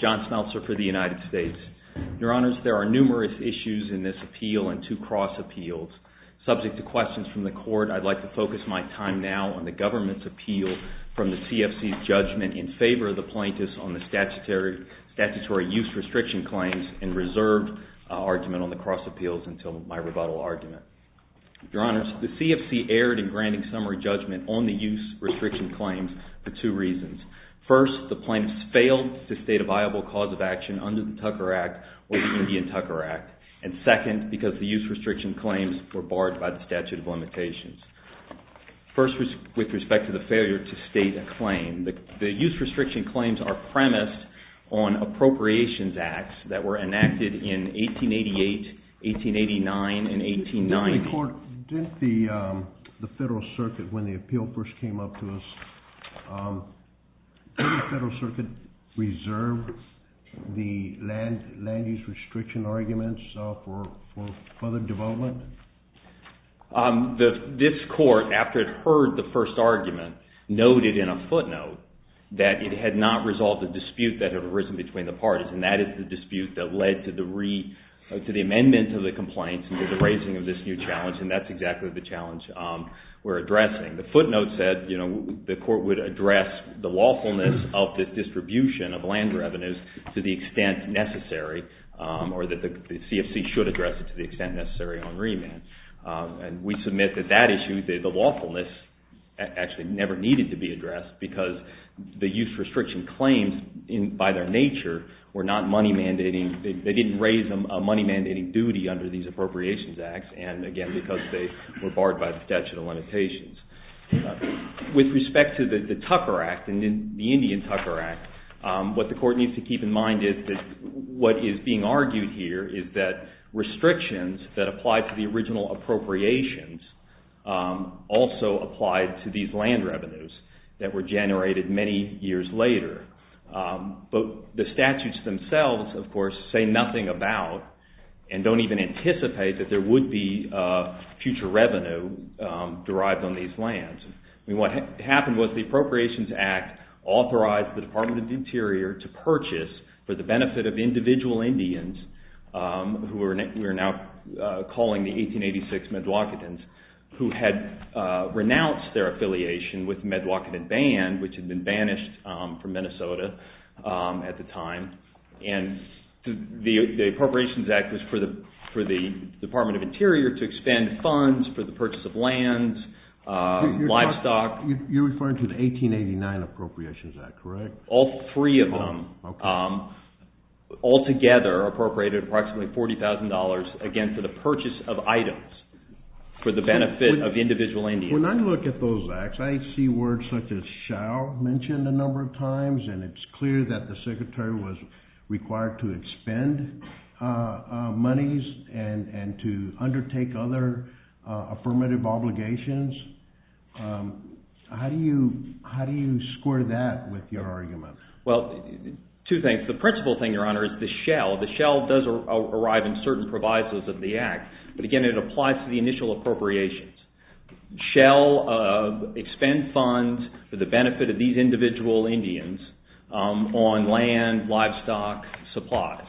John Smeltzer v. United States There are numerous issues in this appeal and two cross appeals. Subject to questions from the Court, I would like to focus my time now on the government's appeal from the CFC's statutory use restriction claims and reserve argument on the cross appeals until my rebuttal argument. Your Honors, the CFC erred in granting summary judgment on the use restriction claims for two reasons. First, the plaintiffs failed to state a viable cause of action under the Tucker Act or the Indian Tucker Act. And second, because the use restriction claims were barred by the statute of limitations. First, with respect to the failure to state a claim, the use restriction claims are premised on appropriations acts that were enacted in 1888, 1889, and 1890. Did the Federal Circuit, when the appeal first came up to us, did the Federal Circuit reserve the land use restriction arguments for further development? This Court, after it heard the first argument, noted in a footnote that it had not resolved the dispute that had arisen between the parties, and that is the dispute that led to the amendment to the complaints and to the raising of this new challenge, and that's exactly the challenge we're addressing. The footnote said the Court would address the lawfulness of the distribution of land revenues to the extent necessary, or that the CFC should address it to the extent necessary on remand. And we submit that that issue, the lawfulness, actually never needed to be addressed because the use restriction claims, by their nature, were not money mandating. They didn't raise a money mandating duty under these appropriations acts, and again, because they were barred by the statute of limitations. With respect to the Tucker Act and the Indian Tucker Act, what the Court needs to keep in mind here is that restrictions that applied to the original appropriations also applied to these land revenues that were generated many years later. But the statutes themselves, of course, say nothing about and don't even anticipate that there would be future revenue derived on these lands. What happened was the Appropriations Act authorized the Department of Interior to purchase, for the benefit of individual Indians, who we are now calling the 1886 Medwoketans, who had renounced their affiliation with Medwoketan Band, which had been banished from Minnesota at the time. And the Appropriations Act was for the Department of Interior to expend funds for the purchase of lands, livestock. You're referring to the 1889 Appropriations Act, correct? All three of them, altogether, appropriated approximately $40,000, again, for the purchase of items for the benefit of individual Indians. When I look at those acts, I see words such as shall mentioned a number of times, and it's clear that the Secretary was required to expend monies and to undertake other affirmative obligations. How do you score that with your argument? Well, two things. The principal thing, Your Honor, is the shall. The shall does arrive in certain provisos of the act, but again, it applies to the initial appropriations. Shall expend funds for the benefit of these individual Indians on land, livestock, supplies.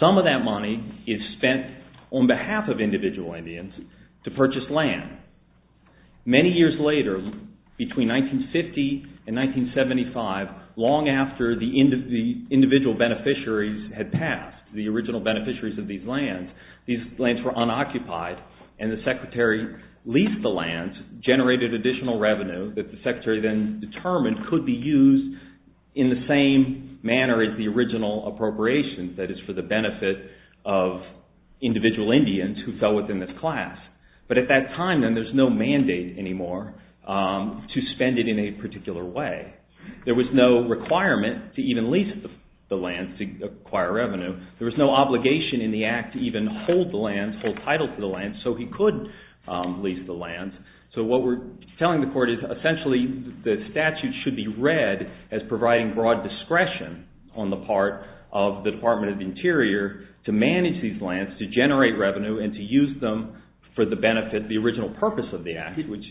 Some of that money is spent on behalf of individual Indians to purchase land. Many years later, between 1950 and 1975, long after the individual beneficiaries had passed, the original beneficiaries of these lands, these lands were unoccupied, and the Secretary leased the lands, generated additional revenue that the Secretary then determined could be appropriations, that is, for the benefit of individual Indians who fell within this class. But at that time, then, there's no mandate anymore to spend it in a particular way. There was no requirement to even lease the lands to acquire revenue. There was no obligation in the act to even hold the lands, hold title to the lands, so he could lease the lands. So what we're telling the Court is, essentially, the statute should be read as providing broad discretion on the part of the Department of the Interior to manage these lands, to generate revenue, and to use them for the benefit, the original purpose of the act, which...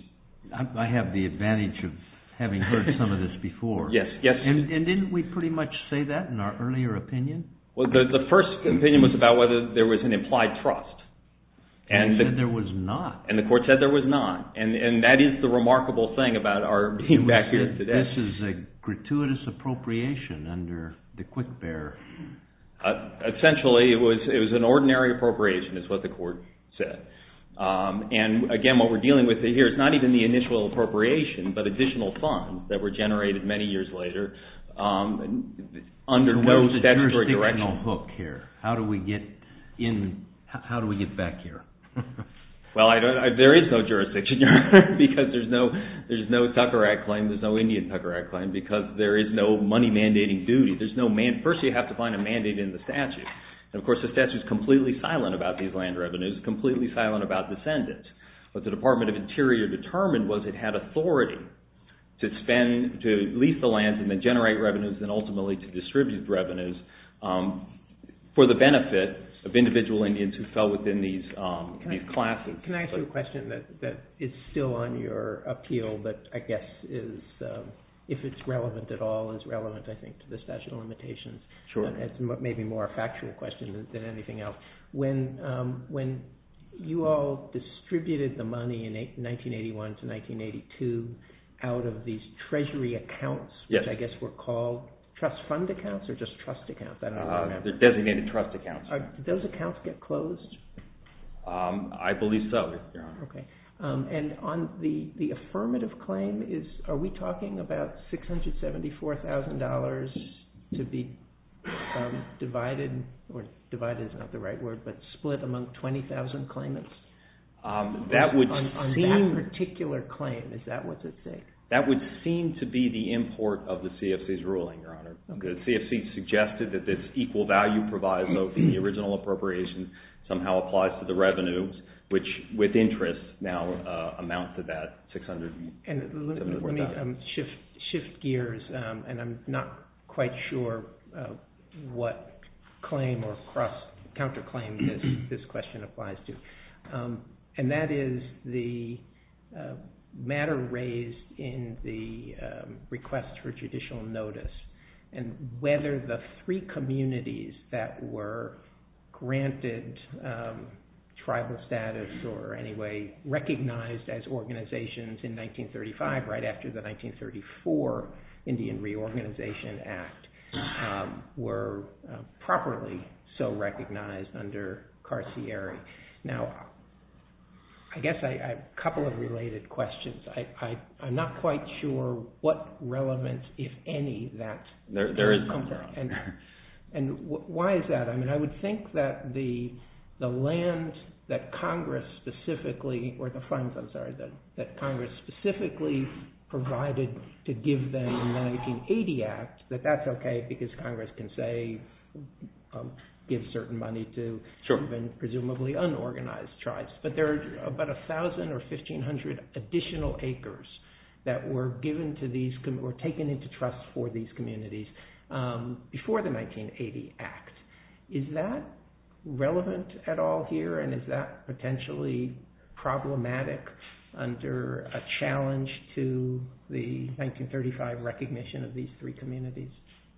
I have the advantage of having heard some of this before. Yes, yes. And didn't we pretty much say that in our earlier opinion? Well, the first opinion was about whether there was an implied trust. And they said there was not. And the Court said there was not. And that is the remarkable thing about our being back here today. This is a gratuitous appropriation under the Quick Bear. Essentially, it was an ordinary appropriation, is what the Court said. And, again, what we're dealing with here is not even the initial appropriation, but additional funds that were generated many years later under no statutory direction. There's no jurisdictional hook here. How do we get back here? Well, there is no jurisdictional hook, because there's no Tucker Act claim, there's no Indian Tucker Act claim, because there is no money mandating duty. There's no mandate. First, you have to find a mandate in the statute. And, of course, the statute is completely silent about these land revenues, completely silent about descendants. What the Department of Interior determined was it had authority to spend, to lease the lands and then generate revenues and, ultimately, to distribute revenues for the benefit of individual Indians who fell within these classes. Can I ask you a question that is still on your appeal, but I guess is, if it's relevant at all, is relevant, I think, to this statute of limitations. It's maybe more a factual question than anything else. When you all distributed the money in 1981 to 1982 out of these treasury accounts, which I guess were called trust fund accounts or just trust accounts? Designated trust accounts. Do those accounts get closed? I believe so, Your Honor. Okay. And on the affirmative claim, are we talking about $674,000 to be divided, or divided is not the right word, but split among 20,000 claimants? On that particular claim, is that what's at stake? That would seem to be the import of the CFC's ruling, Your Honor. The CFC suggested that this equal value proviso from the original appropriation somehow applies to the revenues, which with interest now amount to that $600,000. Let me shift gears, and I'm not quite sure what claim or counterclaim this question applies to, and that is the matter raised in the request for judicial notice and whether the three communities that were granted tribal status or anyway recognized as organizations in 1935 right after the 1934 Indian Reorganization Act were properly so recognized under Carcieri. Now, I guess I have a couple of related questions. I'm not quite sure what relevant, if any, that comes from, and why is that? I mean, I would think that the land that Congress specifically, or the funds, I'm sorry, that Congress specifically provided to give them in the 1980 Act, that that's okay because Congress can say give certain money to presumably unorganized tribes. But there are about 1,000 or 1,500 additional acres that were given to these, or taken into trust for these communities before the 1980 Act. Is that relevant at all here, and is that potentially problematic under a challenge to the 1935 recognition of these three communities?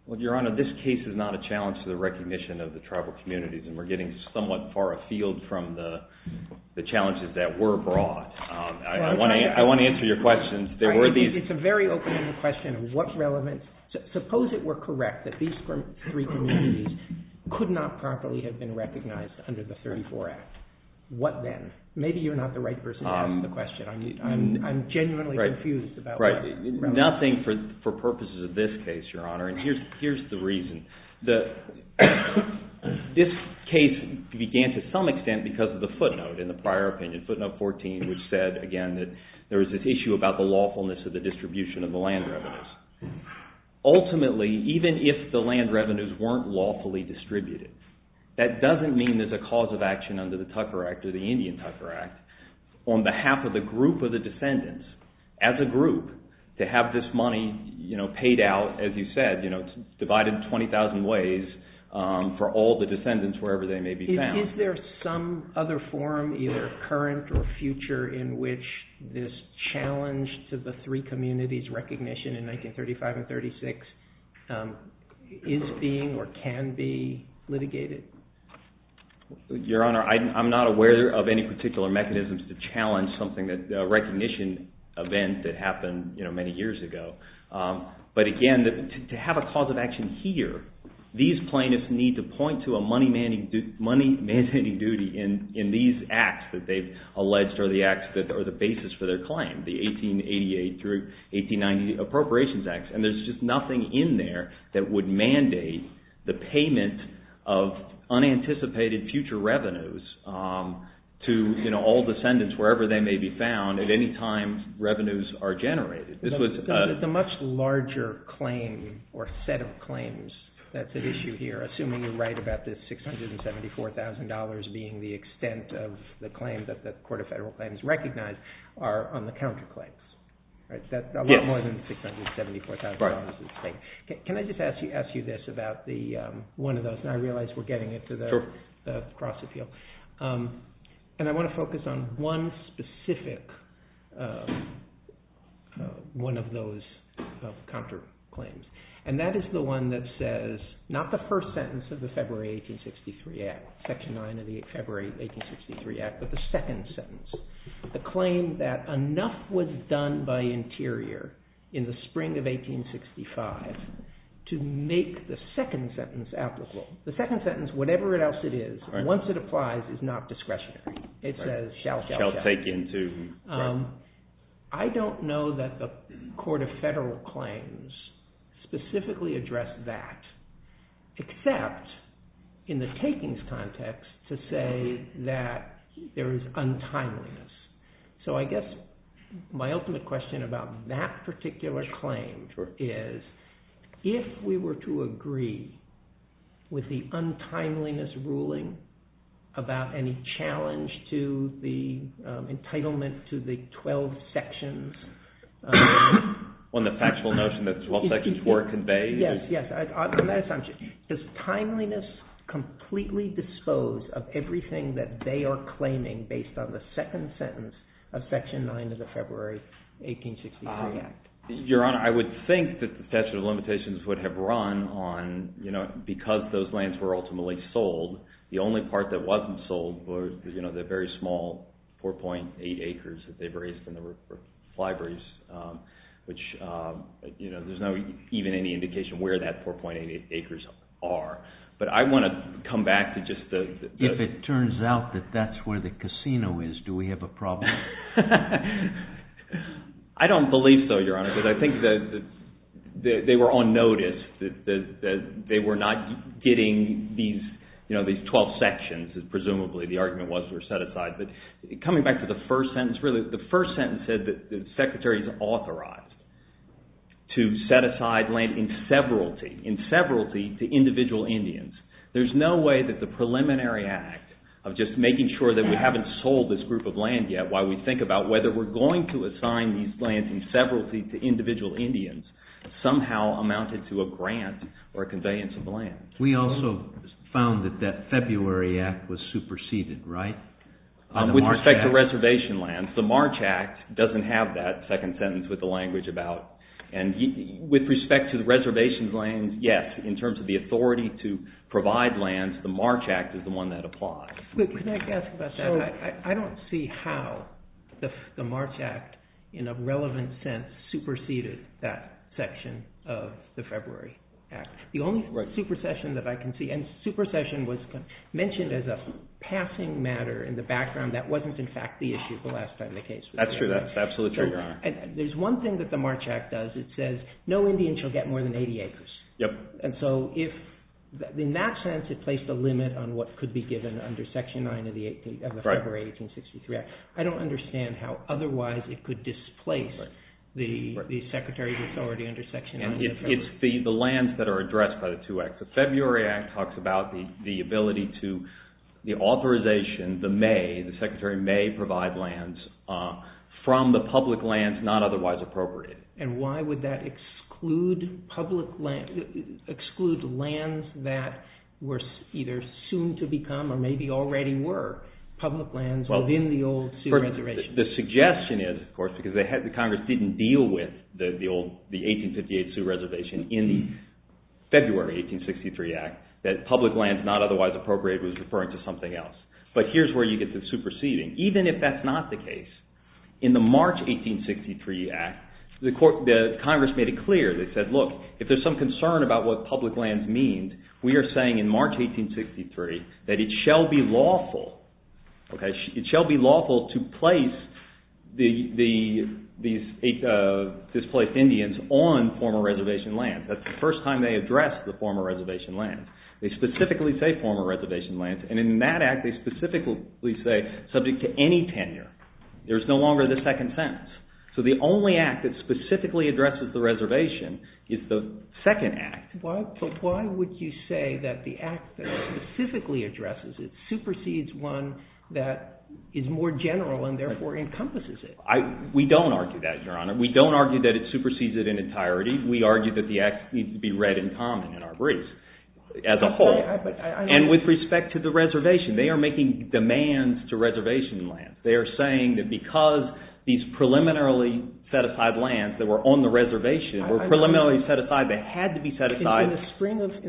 Well, Your Honor, this case is not a challenge to the recognition of the tribal communities, and we're getting somewhat far afield from the challenges that were brought. I want to answer your question. It's a very open-ended question of what relevance. Suppose it were correct that these three communities could not properly have been recognized under the 1934 Act. What then? Maybe you're not the right person to ask the question. I'm genuinely confused about what relevance. Nothing for purposes of this case, Your Honor, and here's the reason. This case began to some extent because of the footnote in the prior opinion, footnote 14, which said, again, that there was this issue about the lawfulness of the distribution of the land revenues. Ultimately, even if the land revenues weren't lawfully distributed, that doesn't mean there's a cause of action under the Tucker Act or the Indian Tucker Act on behalf of the group of the descendants, as a group, to have this money paid out, as you said, divided in 20,000 ways for all the descendants, wherever they may be found. Is there some other form, either current or future, in which this challenge to the three communities' recognition in 1935 and 1936 is being or can be litigated? Your Honor, I'm not aware of any particular mechanisms to challenge something, a recognition event that happened many years ago. But again, to have a cause of action here, these plaintiffs need to point to a money-mandating duty in these acts that they've alleged are the basis for their claim, the 1888 through 1890 Appropriations Act. And there's just nothing in there that would mandate the payment of unanticipated future revenues to all descendants, wherever they may be found, at any time revenues are generated. The much larger claim or set of claims that's at issue here, assuming you're right about this $674,000 being the extent of the claim that the Court of Federal Claims recognized, are on the counterclaims. That's a lot more than $674,000. Can I just ask you this about one of those? And I realize we're getting into the cross-appeal. And I want to focus on one specific, one of those counterclaims. And that is the one that says, not the first sentence of the February 1863 Act, Section 9 of the February 1863 Act, but the second sentence. The claim that enough was done by Interior in the spring of 1865 to make the second sentence applicable. The second sentence, whatever else it is, once it applies, is not discretionary. It says, shall take into account. I don't know that the Court of Federal Claims specifically addressed that, except in the takings context to say that there is untimeliness. So I guess my ultimate question about that particular claim is, if we were to agree with the untimeliness ruling about any challenge to the entitlement to the 12 sections. On the factual notion that the 12 sections were conveyed? Yes, yes. On that assumption, does timeliness completely dispose of everything that they are claiming based on the second sentence of Section 9 of the February 1863 Act? Your Honor, I would think that the statute of limitations would have run on, because those lands were ultimately sold, the only part that wasn't sold were the very small 4.8 acres that they've raised in the libraries, which there's not even any indication where that 4.8 acres are. But I want to come back to just the… If it turns out that that's where the casino is, do we have a problem? I don't believe so, Your Honor, because I think that they were on notice that they were not getting these 12 sections, presumably the argument was were set aside. But coming back to the first sentence, really, the first sentence said that the Secretary is authorized to set aside land in severalty to individual Indians. There's no way that the preliminary act of just making sure that we haven't sold this group of land yet, while we think about whether we're going to assign these lands in severalty to individual Indians, somehow amounted to a grant or a conveyance of land. We also found that that February Act was superseded, right? With respect to reservation lands, the March Act doesn't have that second sentence with the language about… With respect to the reservation lands, yes, in terms of the authority to provide lands, the March Act is the one that applies. I don't see how the March Act, in a relevant sense, superseded that section of the February Act. The only supersession that I can see, and supersession was mentioned as a passing matter in the background, that wasn't in fact the issue the last time the case was… That's true, that's absolutely true, Your Honor. There's one thing that the March Act does, it says no Indian shall get more than 80 acres. Yep. And so, in that sense, it placed a limit on what could be given under Section 9 of the February 1863 Act. I don't understand how otherwise it could displace the Secretary's authority under Section 9. It's the lands that are addressed by the two acts. The February Act talks about the ability to, the authorization, the may, the Secretary may provide lands from the public lands not otherwise appropriate. And why would that exclude public lands, exclude lands that were either soon to become, or maybe already were public lands within the old Civil Registration Act? The suggestion is, of course, because the Congress didn't deal with the 1858 Sioux Reservation in the February 1863 Act, that public lands not otherwise appropriate was referring to something else. But here's where you get the superseding. Even if that's not the case, in the March 1863 Act, the Congress made it clear. They said, look, if there's some concern about what public lands mean, we are saying in March 1863 that it shall be lawful to place these displaced Indians on former reservation lands. That's the first time they addressed the former reservation lands. They specifically say former reservation lands, and in that Act they specifically say subject to any tenure. There's no longer the second sentence. So the only Act that specifically addresses the reservation is the second Act. But why would you say that the Act that specifically addresses it supersedes one that is more general and therefore encompasses it? We don't argue that, Your Honor. We don't argue that it supersedes it in entirety. We argue that the Act needs to be read in common in our briefs as a whole. And with respect to the reservation, they are making demands to reservation lands. They are saying that because these preliminarily set-aside lands that were on the reservation were preliminarily set aside, they had to be set aside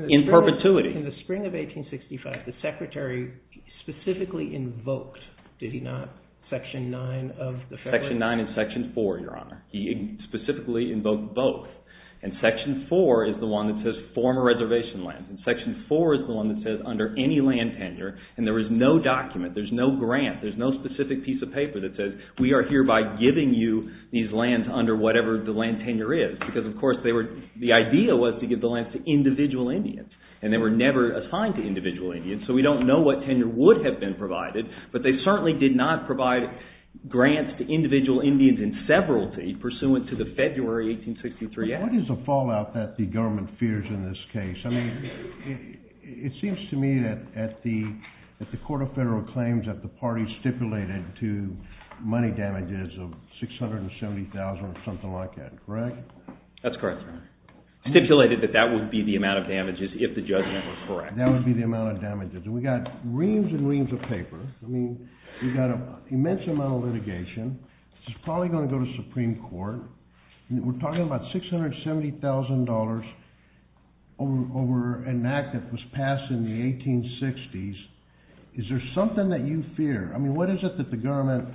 in perpetuity. In the spring of 1865, the Secretary specifically invoked, did he not, Section 9 of the Federal Act? Section 9 and Section 4, Your Honor. He specifically invoked both. And Section 4 is the one that says former reservation lands, and Section 4 is the one that says under any land tenure, and there is no document, there's no grant, there's no specific piece of paper that says we are hereby giving you these lands under whatever the land tenure is. Because, of course, the idea was to give the lands to individual Indians. And they were never assigned to individual Indians, so we don't know what tenure would have been provided. But they certainly did not provide grants to individual Indians in severalty pursuant to the February 1863 Act. What is the fallout that the government fears in this case? I mean, it seems to me that the Court of Federal Claims that the party stipulated to money damages of $670,000 or something like that. Correct? That's correct, Your Honor. Stipulated that that would be the amount of damages if the judgment was correct. That would be the amount of damages. And we've got reams and reams of paper. I mean, we've got an immense amount of litigation. This is probably going to go to Supreme Court. We're talking about $670,000 over an act that was passed in the 1860s. Is there something that you fear? I mean, what is it that the government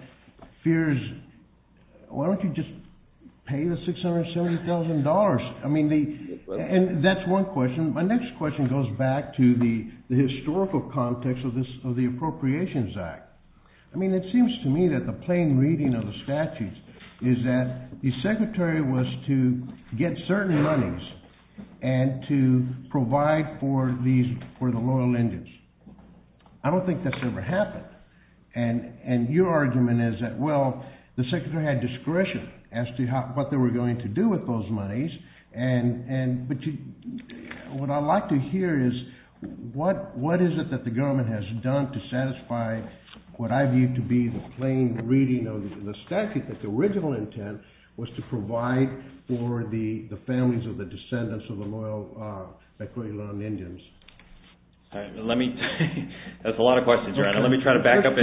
fears? Why don't you just pay the $670,000? I mean, that's one question. My next question goes back to the historical context of the Appropriations Act. I mean, it seems to me that the plain reading of the statutes is that the secretary was to get certain monies and to provide for the loyal Indians. I don't think that's ever happened. And your argument is that, well, the secretary had discretion as to what they were going to do with those monies. But what I'd like to hear is what is it that the government has done to satisfy what I view to be the plain reading of the statute, that the original intent was to provide for the families of the descendants of the loyal Mekwetilam Indians. That's a lot of questions. Let me try to back up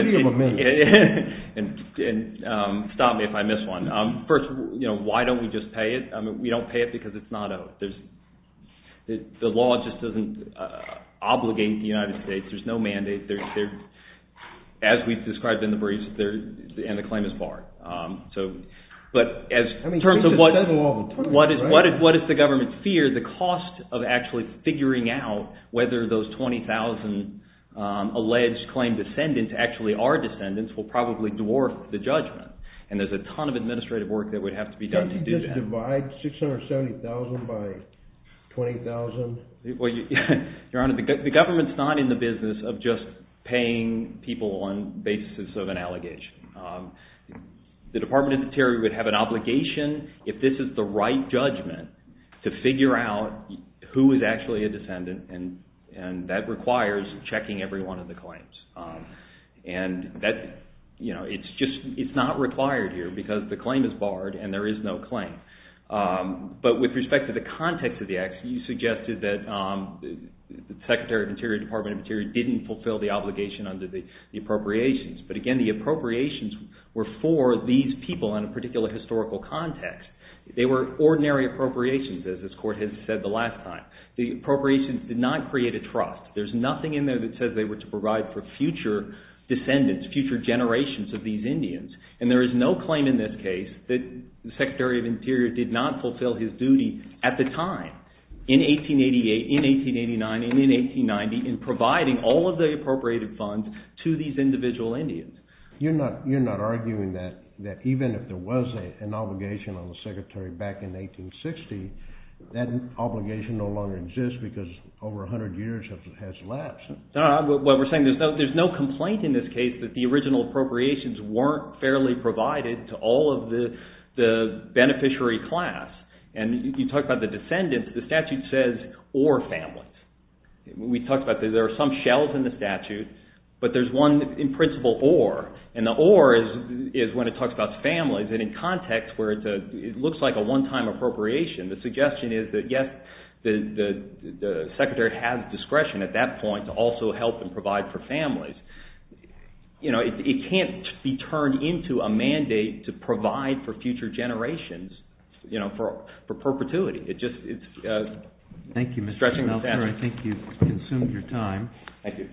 and stop me if I miss one. First, why don't we just pay it? We don't pay it because it's not out. The law just doesn't obligate the United States. There's no mandate. As we've described in the briefs, and the claim is barred. In terms of what is the government's fear, the cost of actually figuring out whether those 20,000 alleged claimed descendants actually are descendants will probably dwarf the judgment. And there's a ton of administrative work that would have to be done to do that. Can't you just divide 670,000 by 20,000? Your Honor, the government's not in the business of just paying people on the basis of an allegation. The Department of the Interior would have an obligation, if this is the right judgment, to figure out who is actually a descendant. And that requires checking every one of the claims. It's not required here because the claim is barred and there is no claim. But with respect to the context of the action, you suggested that the Secretary of the Interior, Department of the Interior, didn't fulfill the obligation under the appropriations. But again, the appropriations were for these people in a particular historical context. They were ordinary appropriations, as this Court has said the last time. The appropriations did not create a trust. There's nothing in there that says they were to provide for future descendants, future generations of these Indians. And there is no claim in this case that the Secretary of the Interior did not fulfill his duty at the time, in 1888, in 1889, and in 1890, in providing all of the appropriated funds to these individual Indians. You're not arguing that even if there was an obligation on the Secretary back in 1860, that obligation no longer exists because over 100 years has lapsed. What we're saying is there's no complaint in this case that the original appropriations weren't fairly provided to all of the beneficiary class. And you talk about the descendants. The statute says, or families. We talked about there are some shells in the statute, but there's one, in principle, or. And the or is when it talks about families. And in context where it looks like a one-time appropriation, the suggestion is that, yes, the Secretary has discretion at that point to also help and provide for families. It can't be turned into a mandate to provide for future generations for perpetuity. It's stretching the statute. Thank you, Mr. Meltzer. I think you've consumed your time. Thank you.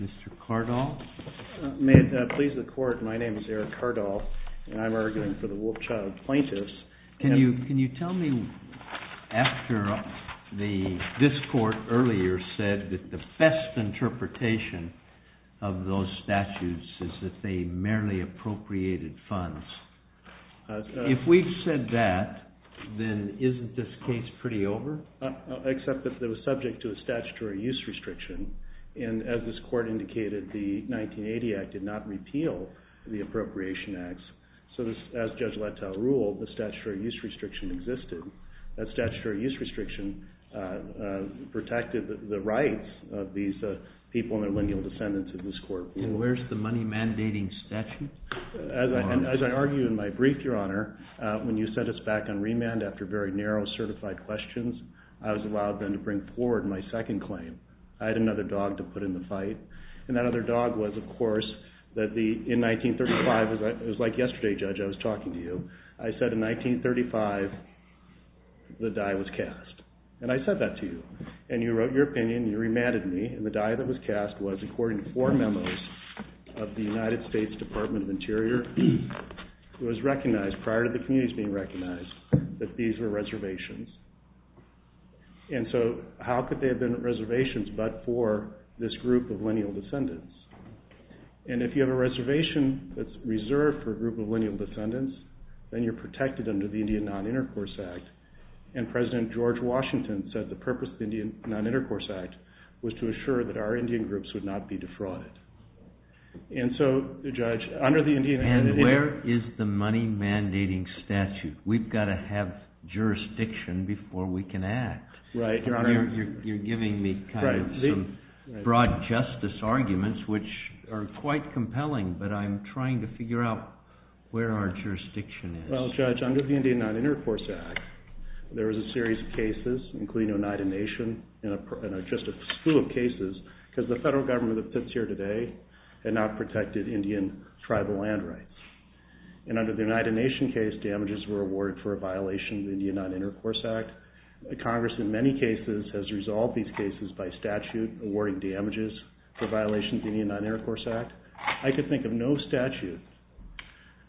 Mr. Cardall? May it please the court, my name is Eric Cardall, and I'm arguing for the Wolfchild plaintiffs. Can you tell me, after this court earlier said that the best interpretation of those statutes is that they merely appropriated funds, if we've said that, then isn't this case pretty over? Except that it was subject to a statutory use restriction. And as this court indicated, the 1980 Act did not repeal the Appropriation Acts. So as Judge Letell ruled, the statutory use restriction existed. That statutory use restriction protected the rights of these people and their lineal descendants in this court. And where's the money mandating statute? As I argue in my brief, Your Honor, when you sent us back on remand after very narrow certified questions, I was allowed then to bring forward my second claim. I had another dog to put in the fight. And that other dog was, of course, that in 1935, it was like yesterday, Judge, I was talking to you, I said in 1935 the die was cast. And I said that to you. And you wrote your opinion. You remanded me. And the die that was cast was, according to four memos of the United States Department of Interior, it was recognized prior to the communities being recognized that these were reservations. And so how could they have been reservations but for this group of lineal descendants? And if you have a reservation that's reserved for a group of lineal descendants, then you're protected under the Indian Non-Intercourse Act. And President George Washington said the purpose of the Indian Non-Intercourse Act was to assure that our Indian groups would not be defrauded. And so, Judge, under the Indian Non-Intercourse Act... And where is the money mandating statute? We've got to have jurisdiction before we can act. Right, Your Honor. You're giving me kind of some broad justice arguments, which are quite compelling, but I'm trying to figure out where our jurisdiction is. Well, Judge, under the Indian Non-Intercourse Act, there was a series of cases, including Oneida Nation, and just a slew of cases, because the federal government that sits here today had not protected Indian tribal land rights. And under the Oneida Nation case, damages were awarded for a violation of the Indian Non-Intercourse Act. Congress, in many cases, has resolved these cases by statute, awarding damages for violations of the Indian Non-Intercourse Act. I could think of no statute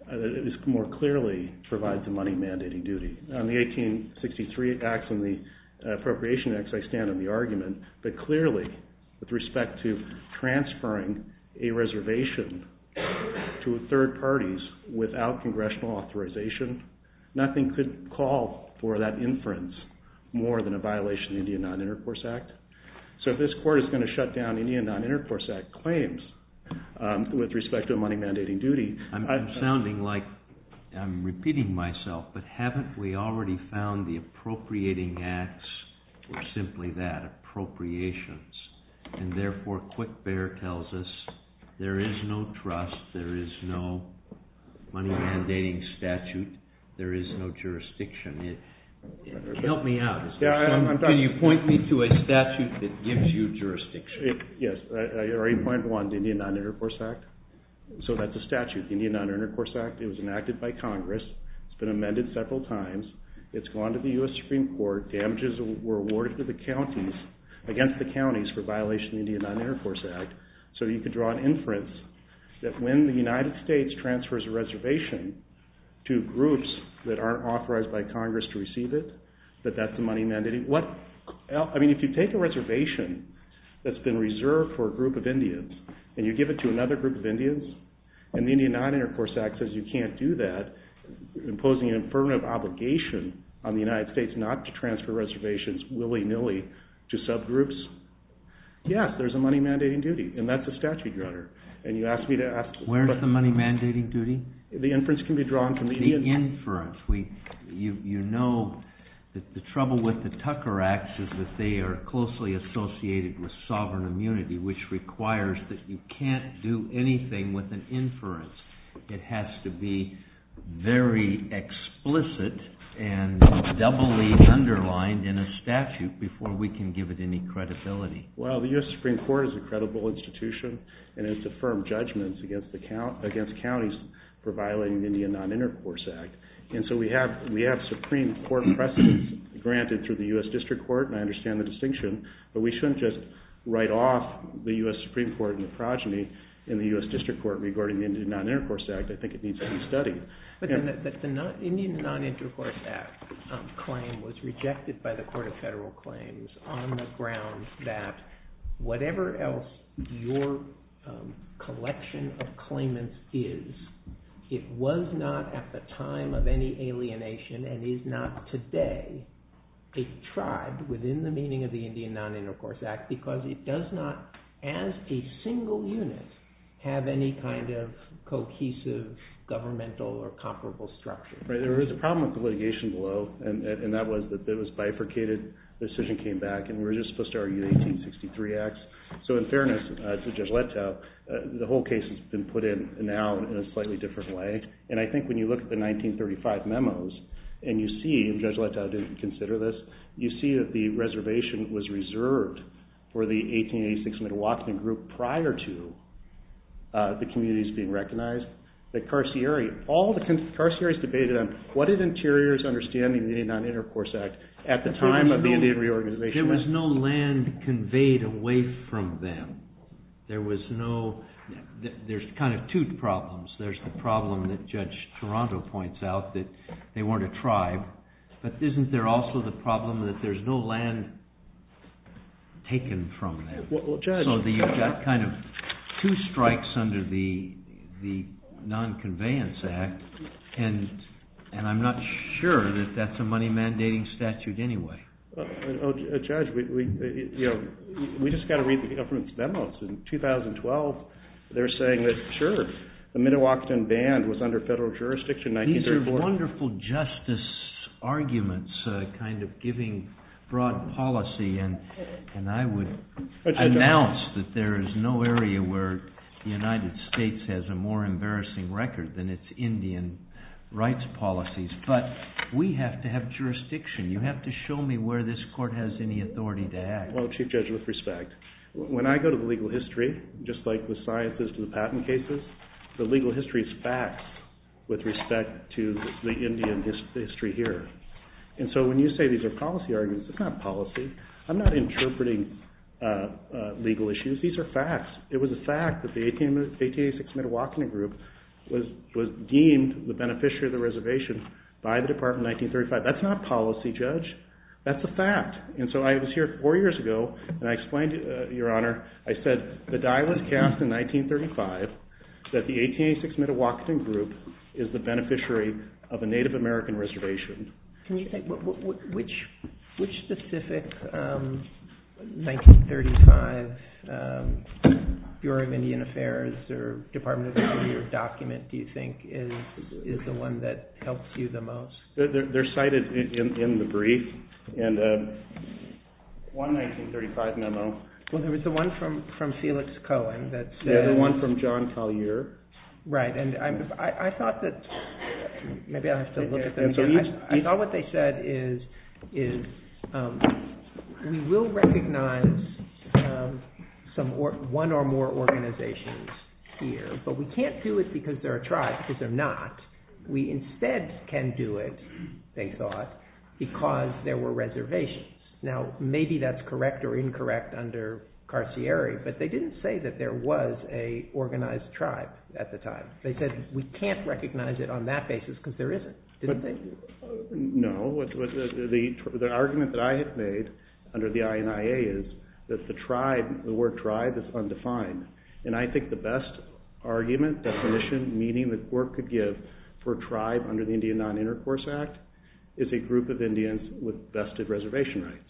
that more clearly provides the money mandating duty. On the 1863 Acts and the Appropriation Acts, I stand on the argument, but clearly, with respect to transferring a reservation to third parties without congressional authorization, nothing could call for that inference more than a violation of the Indian Non-Intercourse Act. So if this court is going to shut down Indian Non-Intercourse Act claims with respect to a money mandating duty... I'm sounding like I'm repeating myself, but haven't we already found the Appropriating Acts, or simply that, Appropriations? And therefore, Quick Bear tells us there is no trust, there is no money mandating statute, there is no jurisdiction. Help me out. Can you point me to a statute that gives you jurisdiction? Yes, I already pointed to one, the Indian Non-Intercourse Act. So that's a statute, the Indian Non-Intercourse Act. It was enacted by Congress. It's been amended several times. It's gone to the U.S. Supreme Court. Damages were awarded to the counties, against the counties, for violation of the Indian Non-Intercourse Act. So you could draw an inference that when the United States transfers a reservation to groups that aren't authorized by Congress to receive it, that that's a money mandating... I mean, if you take a reservation that's been reserved for a group of Indians, and you give it to another group of Indians, and the Indian Non-Intercourse Act says you can't do that, imposing an affirmative obligation on the United States not to transfer reservations willy-nilly to subgroups, yes, there's a money mandating duty, and that's a statute, Your Honor. And you asked me to ask... Where is the money mandating duty? The inference can be drawn from the Indian... The inference. You know that the trouble with the Tucker Acts is that they are closely associated with sovereign immunity, It has to be very explicit and doubly underlined in a statute before we can give it any credibility. Well, the U.S. Supreme Court is a credible institution, and it's affirmed judgments against counties for violating the Indian Non-Intercourse Act. And so we have Supreme Court precedents granted through the U.S. District Court, and I understand the distinction, but we shouldn't just write off the U.S. Supreme Court in the progeny in the U.S. District Court regarding the Indian Non-Intercourse Act. I think it needs to be studied. But the Indian Non-Intercourse Act claim was rejected by the Court of Federal Claims on the grounds that whatever else your collection of claimants is, it was not at the time of any alienation and is not today a tribe within the meaning of the Indian Non-Intercourse Act, because it does not, as a single unit, have any kind of cohesive governmental or comparable structure. Right. There is a problem with the litigation below, and that was that it was bifurcated. The decision came back, and we were just supposed to argue the 1863 Acts. So in fairness to Judge Letow, the whole case has been put in now in a slightly different way. And I think when you look at the 1935 memos, and you see, and Judge Letow didn't consider this, you see that the reservation was reserved for the 1886 Milwaukee group prior to the communities being recognized. The carcieri, all the carcieri's debated on what did interiors understand in the Indian Non-Intercourse Act at the time of the Indian reorganization. There was no land conveyed away from them. There was no, there's kind of two problems. There's the problem that Judge Toronto points out, that they weren't a tribe, but isn't there also the problem that there's no land taken from them? Well, Judge. So you've got kind of two strikes under the Non-Conveyance Act, and I'm not sure that that's a money-mandating statute anyway. Judge, we just got to read the government's memos. In 2012, they're saying that, sure, the Midewakern Band was under federal jurisdiction in 1934. These are wonderful justice arguments kind of giving broad policy, and I would announce that there is no area where the United States has a more embarrassing record than its Indian rights policies. But we have to have jurisdiction. You have to show me where this court has any authority to act. Well, Chief Judge, with respect, when I go to the legal history, just like the sciences to the patent cases, the legal history is facts with respect to the Indian history here. And so when you say these are policy arguments, it's not policy. I'm not interpreting legal issues. These are facts. It was a fact that the 1886 Midewakern Group was deemed the beneficiary of the reservation by the Department in 1935. That's not policy, Judge. That's a fact. And so I was here four years ago, and I explained to Your Honor, I said, the die was cast in 1935 that the 1886 Midewakern Group is the beneficiary of a Native American reservation. Can you think which specific 1935 Bureau of Indian Affairs or Department of Indian Affairs document do you think is the one that helps you the most? They're cited in the brief, and one 1935 memo. Well, there was the one from Felix Cohen. Yeah, the one from John Collier. Right, and I thought that maybe I have to look at that. I thought what they said is we will recognize one or more organizations here, but we can't do it because they're a tribe because they're not. We instead can do it, they thought, because there were reservations. Now, maybe that's correct or incorrect under Carcieri, but they didn't say that there was an organized tribe at the time. They said we can't recognize it on that basis because there isn't. No, the argument that I have made under the INIA is that the word tribe is undefined, and I think the best argument, definition, meaning the court could give for tribe under the Indian Non-Intercourse Act is a group of Indians with vested reservation rights.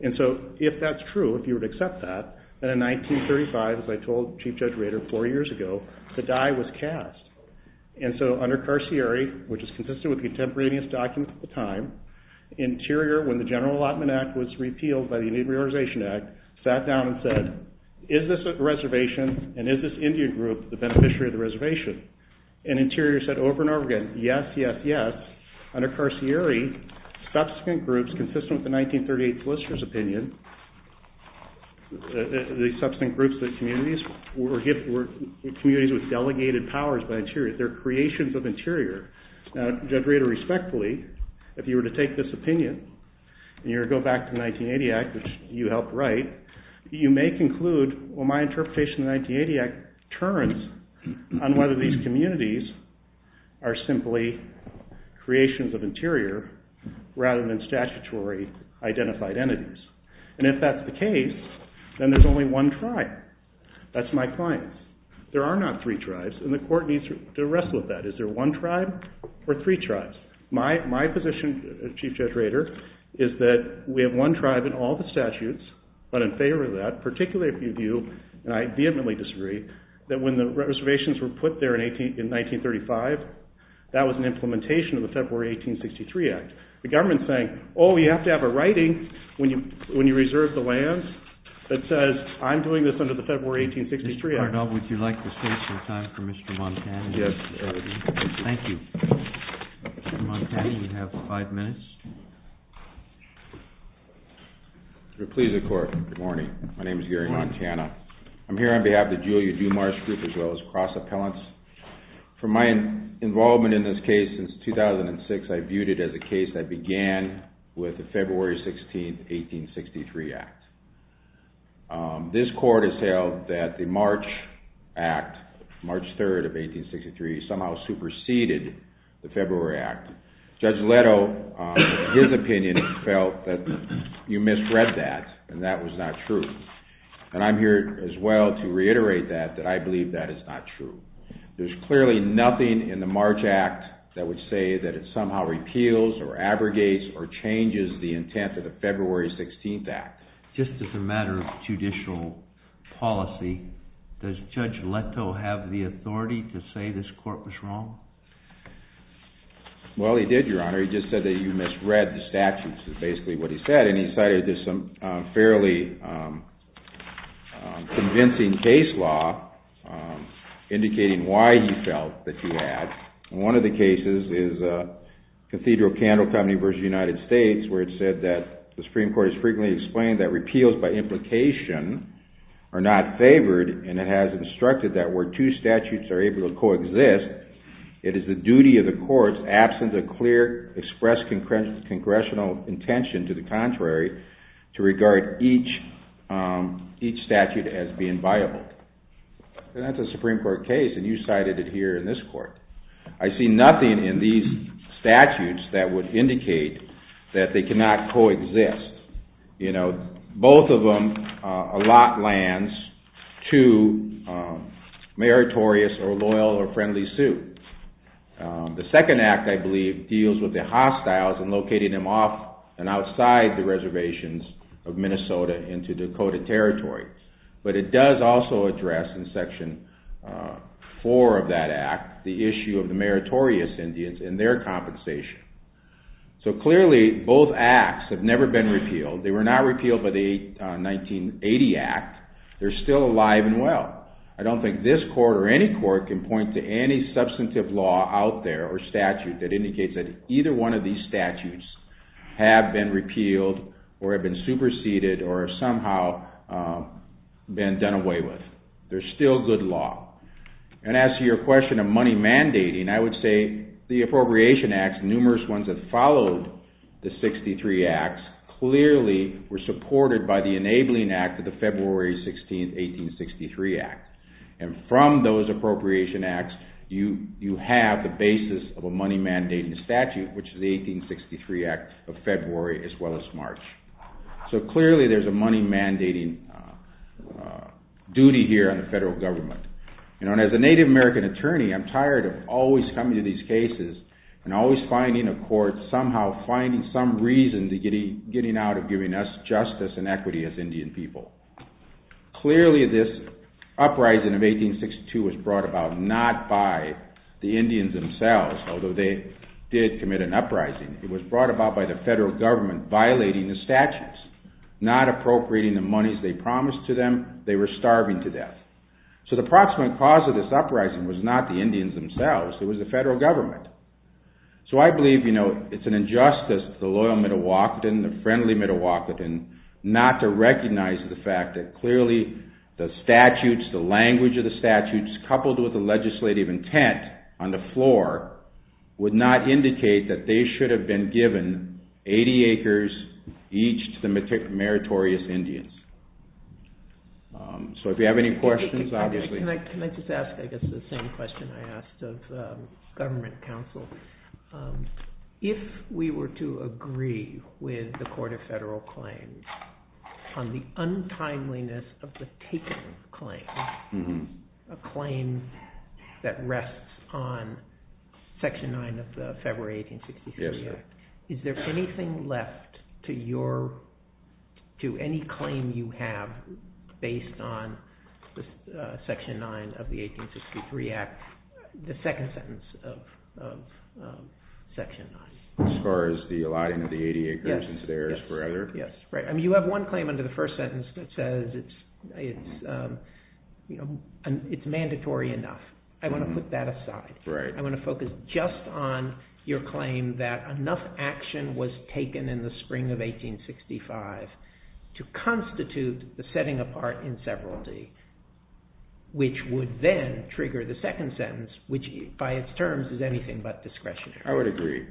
And so if that's true, if you would accept that, then in 1935, as I told Chief Judge Rader four years ago, the die was cast. And so under Carcieri, which is consistent with the contemporaneous documents at the time, Interior, when the General Allotment Act was repealed by the Indian Reorganization Act, sat down and said, is this reservation and is this Indian group the beneficiary of the reservation? And Interior said over and over again, yes, yes, yes. Under Carcieri, subsequent groups consistent with the 1938 solicitor's opinion, the subsequent groups were communities with delegated powers by Interior. They're creations of Interior. Now, Judge Rader, respectfully, if you were to take this opinion and you were to go back to the 1980 Act, which you helped write, you may conclude, well, my interpretation of the 1980 Act turns on whether these communities are simply creations of Interior rather than statutory identified entities. And if that's the case, then there's only one tribe. That's my client. There are not three tribes, and the court needs to wrestle with that. Is there one tribe or three tribes? My position, Chief Judge Rader, is that we have one tribe in all the statutes, but in favor of that, particularly if you view, and I vehemently disagree, that when the reservations were put there in 1935, that was an implementation of the February 1863 Act. The government's saying, oh, you have to have a writing when you reserve the land that says, I'm doing this under the February 1863 Act. Your Honor, now would you like to save some time for Mr. Montana? Yes. Thank you. Mr. Montana, you have five minutes. Please, the court. Good morning. My name is Gary Montana. I'm here on behalf of the Julia DuMars group as well as cross appellants. From my involvement in this case since 2006, I viewed it as a case that began with the February 16, 1863 Act. This court has held that the March Act, March 3, 1863, somehow superseded the February Act. Judge Leto, in his opinion, felt that you misread that and that was not true. And I'm here as well to reiterate that, that I believe that is not true. There's clearly nothing in the March Act that would say that it somehow repeals or abrogates or changes the intent of the February 16 Act. Just as a matter of judicial policy, does Judge Leto have the authority to say this court was wrong? Well, he did, Your Honor. He just said that you misread the statutes is basically what he said. And he cited some fairly convincing case law indicating why he felt that he had. One of the cases is Cathedral Candle Company v. United States, where it said that the Supreme Court has frequently explained that repeals by implication are not favored and it has instructed that where two statutes are able to coexist, it is the duty of the courts, absent a clear expressed congressional intention to the contrary, to regard each statute as being viable. And that's a Supreme Court case and you cited it here in this court. I see nothing in these statutes that would indicate that they cannot coexist. You know, both of them allot lands to meritorious or loyal or friendly suit. The second act, I believe, deals with the hostiles and locating them off and outside the reservations of Minnesota into Dakota territory. But it does also address in section four of that act the issue of the meritorious Indians and their compensation. So clearly both acts have never been repealed. They were not repealed by the 1980 act. They're still alive and well. I don't think this court or any court can point to any substantive law out there or statute that indicates that either one of these statutes have been repealed or have been superseded or somehow been done away with. They're still good law. And as to your question of money mandating, I would say the appropriation acts, numerous ones that followed the 63 acts, clearly were supported by the enabling act of the February 16, 1863 act. And from those appropriation acts, you have the basis of a money mandating statute, which is the 1863 act of February as well as March. So clearly there's a money mandating duty here on the federal government. And as a Native American attorney, I'm tired of always coming to these cases and always finding a court somehow finding some reason to getting out of giving us justice and equity as Indian people. Clearly this uprising of 1862 was brought about not by the Indians themselves, although they did commit an uprising. It was brought about by the federal government violating the statutes, not appropriating the monies they promised to them. They were starving to death. So the proximate cause of this uprising was not the Indians themselves. It was the federal government. So I believe, you know, it's an injustice to the loyal Mdewakanton, the friendly Mdewakanton, not to recognize the fact that clearly the statutes, the language of the statutes coupled with the legislative intent on the floor would not indicate that they should have been given 80 acres each to the meritorious Indians. So if you have any questions, obviously. Can I just ask I guess the same question I asked of government counsel? If we were to agree with the court of federal claims on the untimeliness of the taken claim, a claim that rests on Section 9 of the February 1863 Act, is there anything left to your, to any claim you have based on Section 9 of the 1863 Act, the second sentence of Section 9? As far as the allotting of the 80 acres is theirs forever? Yes, right. You have one claim under the first sentence that says it's mandatory enough. I want to put that aside. I want to focus just on your claim that enough action was taken in the spring of 1865 to constitute the setting apart in severalty, which would then trigger the second sentence, which by its terms is anything but discretionary. I would agree.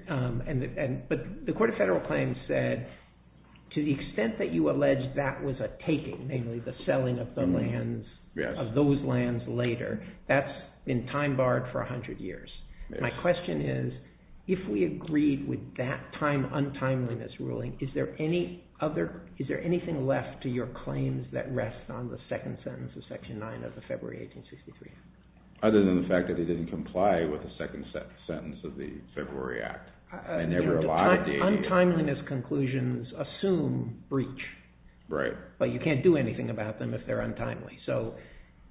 But the court of federal claims said to the extent that you allege that was a taking, namely the selling of those lands later, that's been time barred for 100 years. My question is if we agreed with that untimeliness ruling, is there anything left to your claims that rest on the second sentence of Section 9 of the February 1863 Act? Other than the fact that they didn't comply with the second sentence of the February Act. The untimeliness conclusions assume breach. Right. But you can't do anything about them if they're untimely. So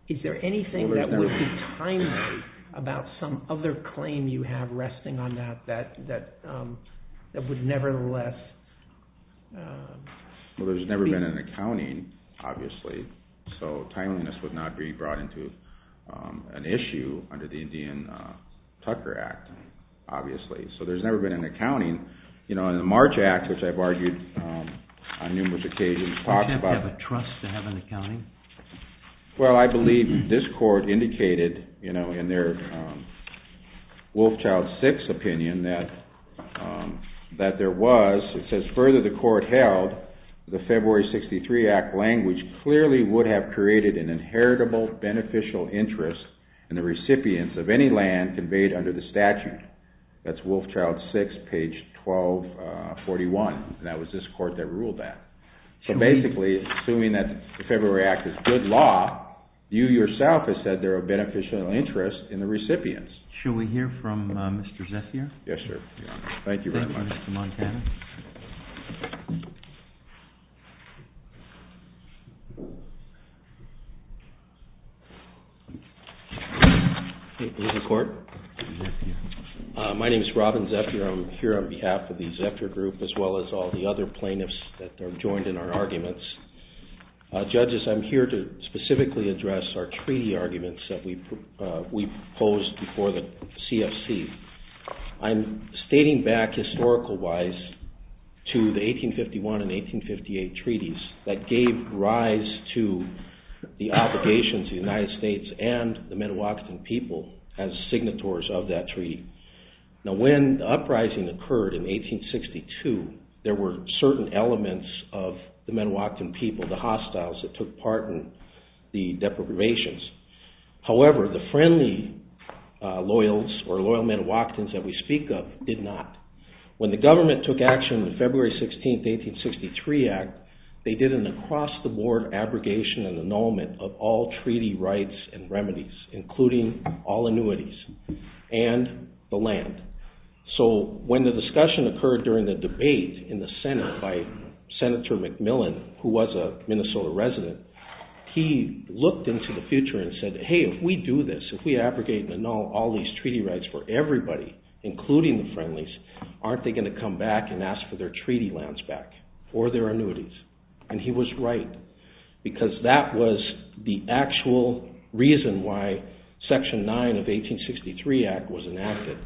is there anything that would be timely about some other claim you have resting on that that would nevertheless be? Well, there's never been an accounting, obviously, so timeliness would not be brought into an issue under the Indian Tucker Act, obviously. So there's never been an accounting. In the March Act, which I've argued on numerous occasions, talks about the trust to have an accounting. Well, I believe this court indicated in their Wolfchild 6 opinion that there was. It says, further the court held, the February 63 Act language clearly would have created an inheritable beneficial interest in the recipients of any land conveyed under the statute. That's Wolfchild 6, page 1241, and that was this court that ruled that. So basically, assuming that the February Act is good law, you yourself have said there are beneficial interests in the recipients. Shall we hear from Mr. Zethier? Yes, sir. Thank you very much. Mr. Montana. Is this the court? My name is Robin Zethier. I'm here on behalf of the Zethier Group, as well as all the other plaintiffs that are joined in our arguments. Judges, I'm here to specifically address our treaty arguments that we proposed before the CFC. I'm stating back historical-wise to the 1851 and 1858 treaties that gave rise to the obligations of the United States and the Midewakern people as signatories of that treaty. Now, when the uprising occurred in 1862, there were certain elements of the Midewakern people, the hostiles that took part in the deprivations. However, the friendly loyals or loyal Midewakerns that we speak of did not. When the government took action on the February 16, 1863 Act, they did an across-the-board abrogation and annulment of all treaty rights and remedies, including all annuities and the land. So when the discussion occurred during the debate in the Senate by Senator McMillan, who was a Minnesota resident, he looked into the future and said, hey, if we do this, if we abrogate and annul all these treaty rights for everybody, including the friendlies, aren't they going to come back and ask for their treaty lands back or their annuities? And he was right, because that was the actual reason why Section 9 of the 1863 Act was enacted,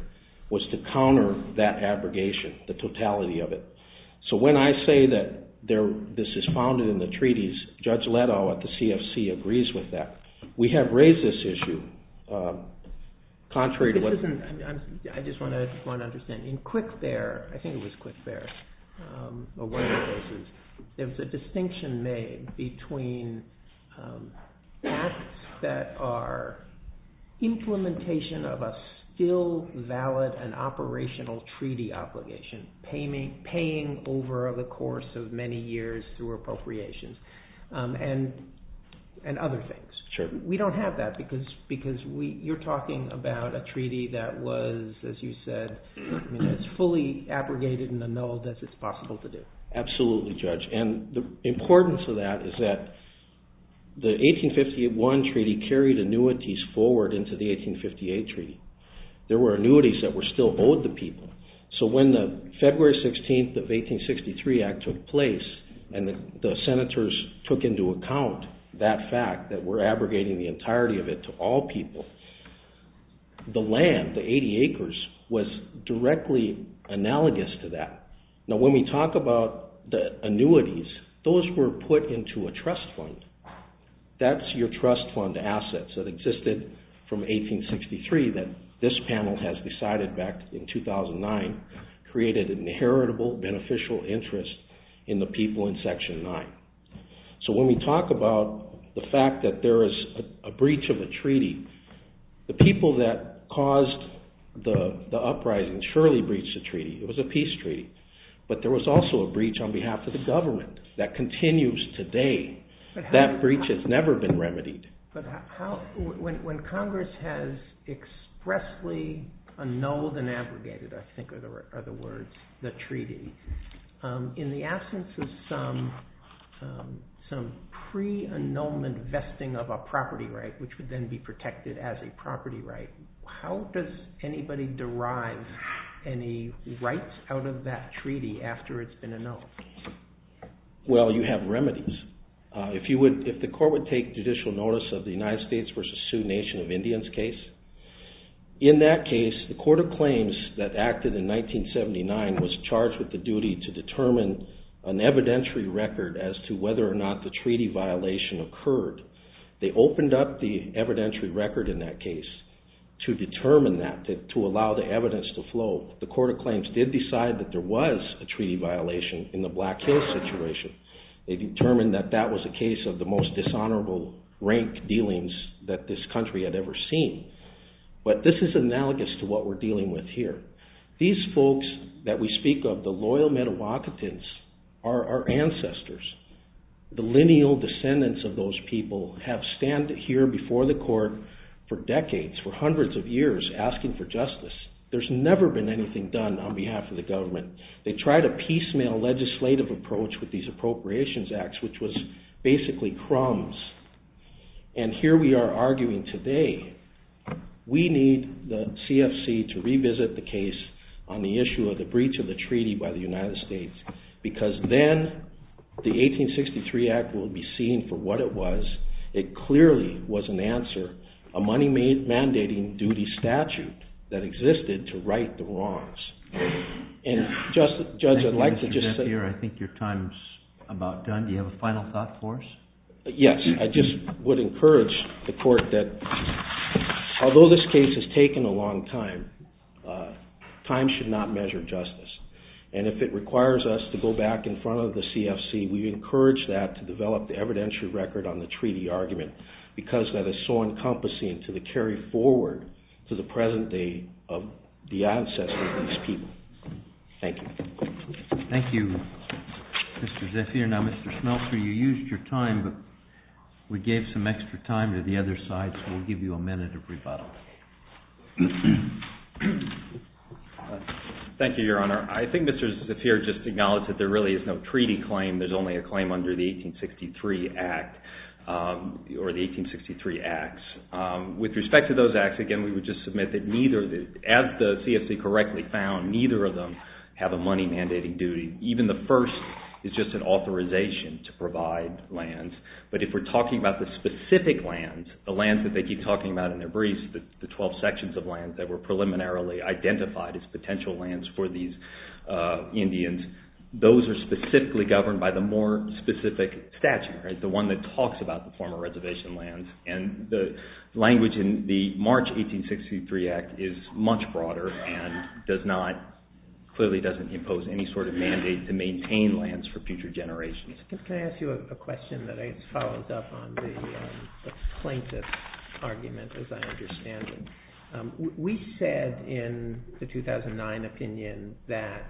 was to counter that abrogation, the totality of it. So when I say that this is founded in the treaties, Judge Leto at the CFC agrees with that. We have raised this issue. Contrary to what... I just want to understand. In Quickbear, I think it was Quickbear, or one of the places, there was a distinction made between acts that are implementation of a still valid and operational treaty obligation, paying over the course of many years through appropriations, and other things. We don't have that, because you're talking about a treaty that was, as you said, as fully abrogated and annulled as it's possible to do. Absolutely, Judge. And the importance of that is that the 1851 treaty carried annuities forward into the 1858 treaty. There were annuities that were still owed to people. So when the February 16th of 1863 Act took place, and the senators took into account that fact, that we're abrogating the entirety of it to all people, the land, the 80 acres, was directly analogous to that. Now when we talk about the annuities, those were put into a trust fund. That's your trust fund assets that existed from 1863 that this panel has decided back in 2009, created an inheritable beneficial interest in the people in Section 9. So when we talk about the fact that there is a breach of a treaty, the people that caused the uprising surely breached the treaty. It was a peace treaty. But there was also a breach on behalf of the government that continues today. That breach has never been remedied. When Congress has expressly annulled and abrogated, I think are the words, the treaty, in the absence of some pre-annulment vesting of a property right, which would then be protected as a property right, how does anybody derive any rights out of that treaty after it's been annulled? Well, you have remedies. If the court would take judicial notice of the United States v. Sioux Nation of Indians case, in that case the Court of Claims that acted in 1979 was charged with the duty to determine an evidentiary record as to whether or not the treaty violation occurred. They opened up the evidentiary record in that case to determine that, to allow the evidence to flow. The Court of Claims did decide that there was a treaty violation in the Black Hills situation. They determined that that was a case of the most dishonorable rank dealings that this country had ever seen. But this is analogous to what we're dealing with here. These folks that we speak of, the loyal Mdewakantans, are our ancestors. The lineal descendants of those people have stood here before the court for decades, for hundreds of years, asking for justice. There's never been anything done on behalf of the government. They tried a piecemeal legislative approach with these Appropriations Acts, which was basically crumbs. And here we are arguing today, we need the CFC to revisit the case on the issue of the breach of the treaty by the United States, because then the 1863 Act will be seen for what it was. It clearly was an answer, a money-mandating duty statute that existed to right the wrongs. Judge, I'd like to just say... I think your time's about done. Do you have a final thought for us? Yes, I just would encourage the court that although this case has taken a long time, time should not measure justice. And if it requires us to go back in front of the CFC, we encourage that to develop the evidentiary record on the treaty argument, because that is so encompassing to the carry forward to the present day of the ancestors of these people. Thank you. Thank you, Mr. Zephir. Now, Mr. Smeltzer, you used your time, but we gave some extra time to the other side, so we'll give you a minute of rebuttal. Thank you, Your Honor. I think Mr. Zephir just acknowledged that there really is no treaty claim. There's only a claim under the 1863 Act, or the 1863 Acts. With respect to those acts, again, we would just submit that as the CFC correctly found, neither of them have a money mandating duty. Even the first is just an authorization to provide lands. But if we're talking about the specific lands, the lands that they keep talking about in their briefs, the 12 sections of lands that were preliminarily identified as potential lands for these Indians, those are specifically governed by the more specific statute, the one that talks about the former reservation lands. And the language in the March 1863 Act is much broader and clearly doesn't impose any sort of mandate to maintain lands for future generations. Can I ask you a question that I guess follows up on the plaintiff's argument, as I understand it? We said in the 2009 opinion that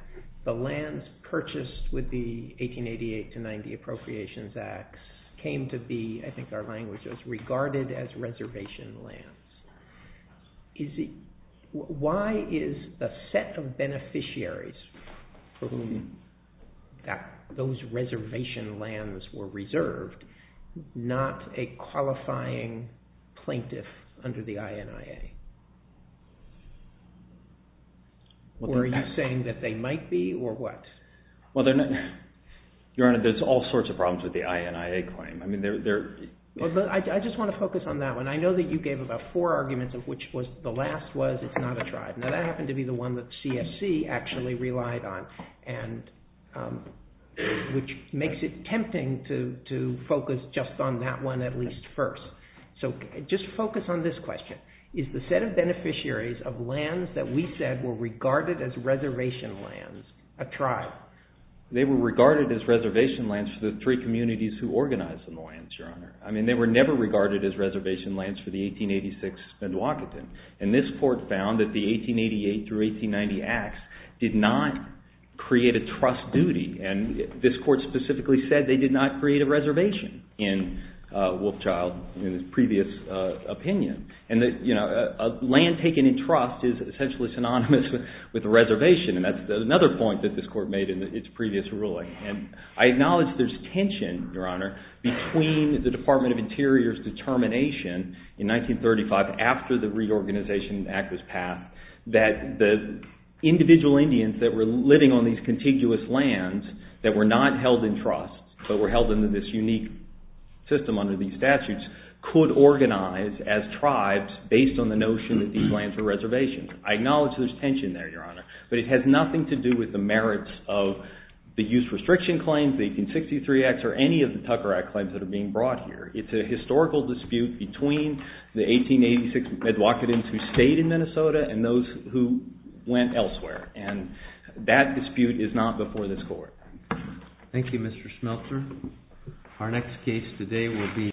the lands purchased with the 1888-90 Appropriations Act came to be, I think our language says, regarded as reservation lands. Why is the set of beneficiaries for whom those reservation lands were reserved not a qualifying plaintiff under the INIA? Are you saying that they might be, or what? Your Honor, there's all sorts of problems with the INIA claim. I just want to focus on that one. I know that you gave about four arguments, of which the last was it's not a tribe. Now that happened to be the one that CSC actually relied on, which makes it tempting to focus just on that one at least first. So just focus on this question. Is the set of beneficiaries of lands that we said were regarded as reservation lands a tribe? They were regarded as reservation lands for the three communities who organized the lands, Your Honor. I mean, they were never regarded as reservation lands for the 1886 Mdewakanton. And this court found that the 1888-1890 Acts did not create a trust duty. And this court specifically said they did not create a reservation in Wolfchild, in his previous opinion. A land taken in trust is essentially synonymous with a reservation, and that's another point that this court made in its previous ruling. And I acknowledge there's tension, Your Honor, between the Department of Interior's determination in 1935, after the Reorganization Act was passed, that the individual Indians that were living on these contiguous lands that were not held in trust, but were held in this unique system under these statutes, could organize as tribes based on the notion that these lands were reservations. I acknowledge there's tension there, Your Honor, but it has nothing to do with the merits of the use restriction claims, the 1863 Acts, or any of the Tucker Act claims that are being brought here. It's a historical dispute between the 1886 Mdewakantons who stayed in Minnesota and those who went elsewhere. And that dispute is not before this court. Thank you, Mr. Schmelter. Our next case today will be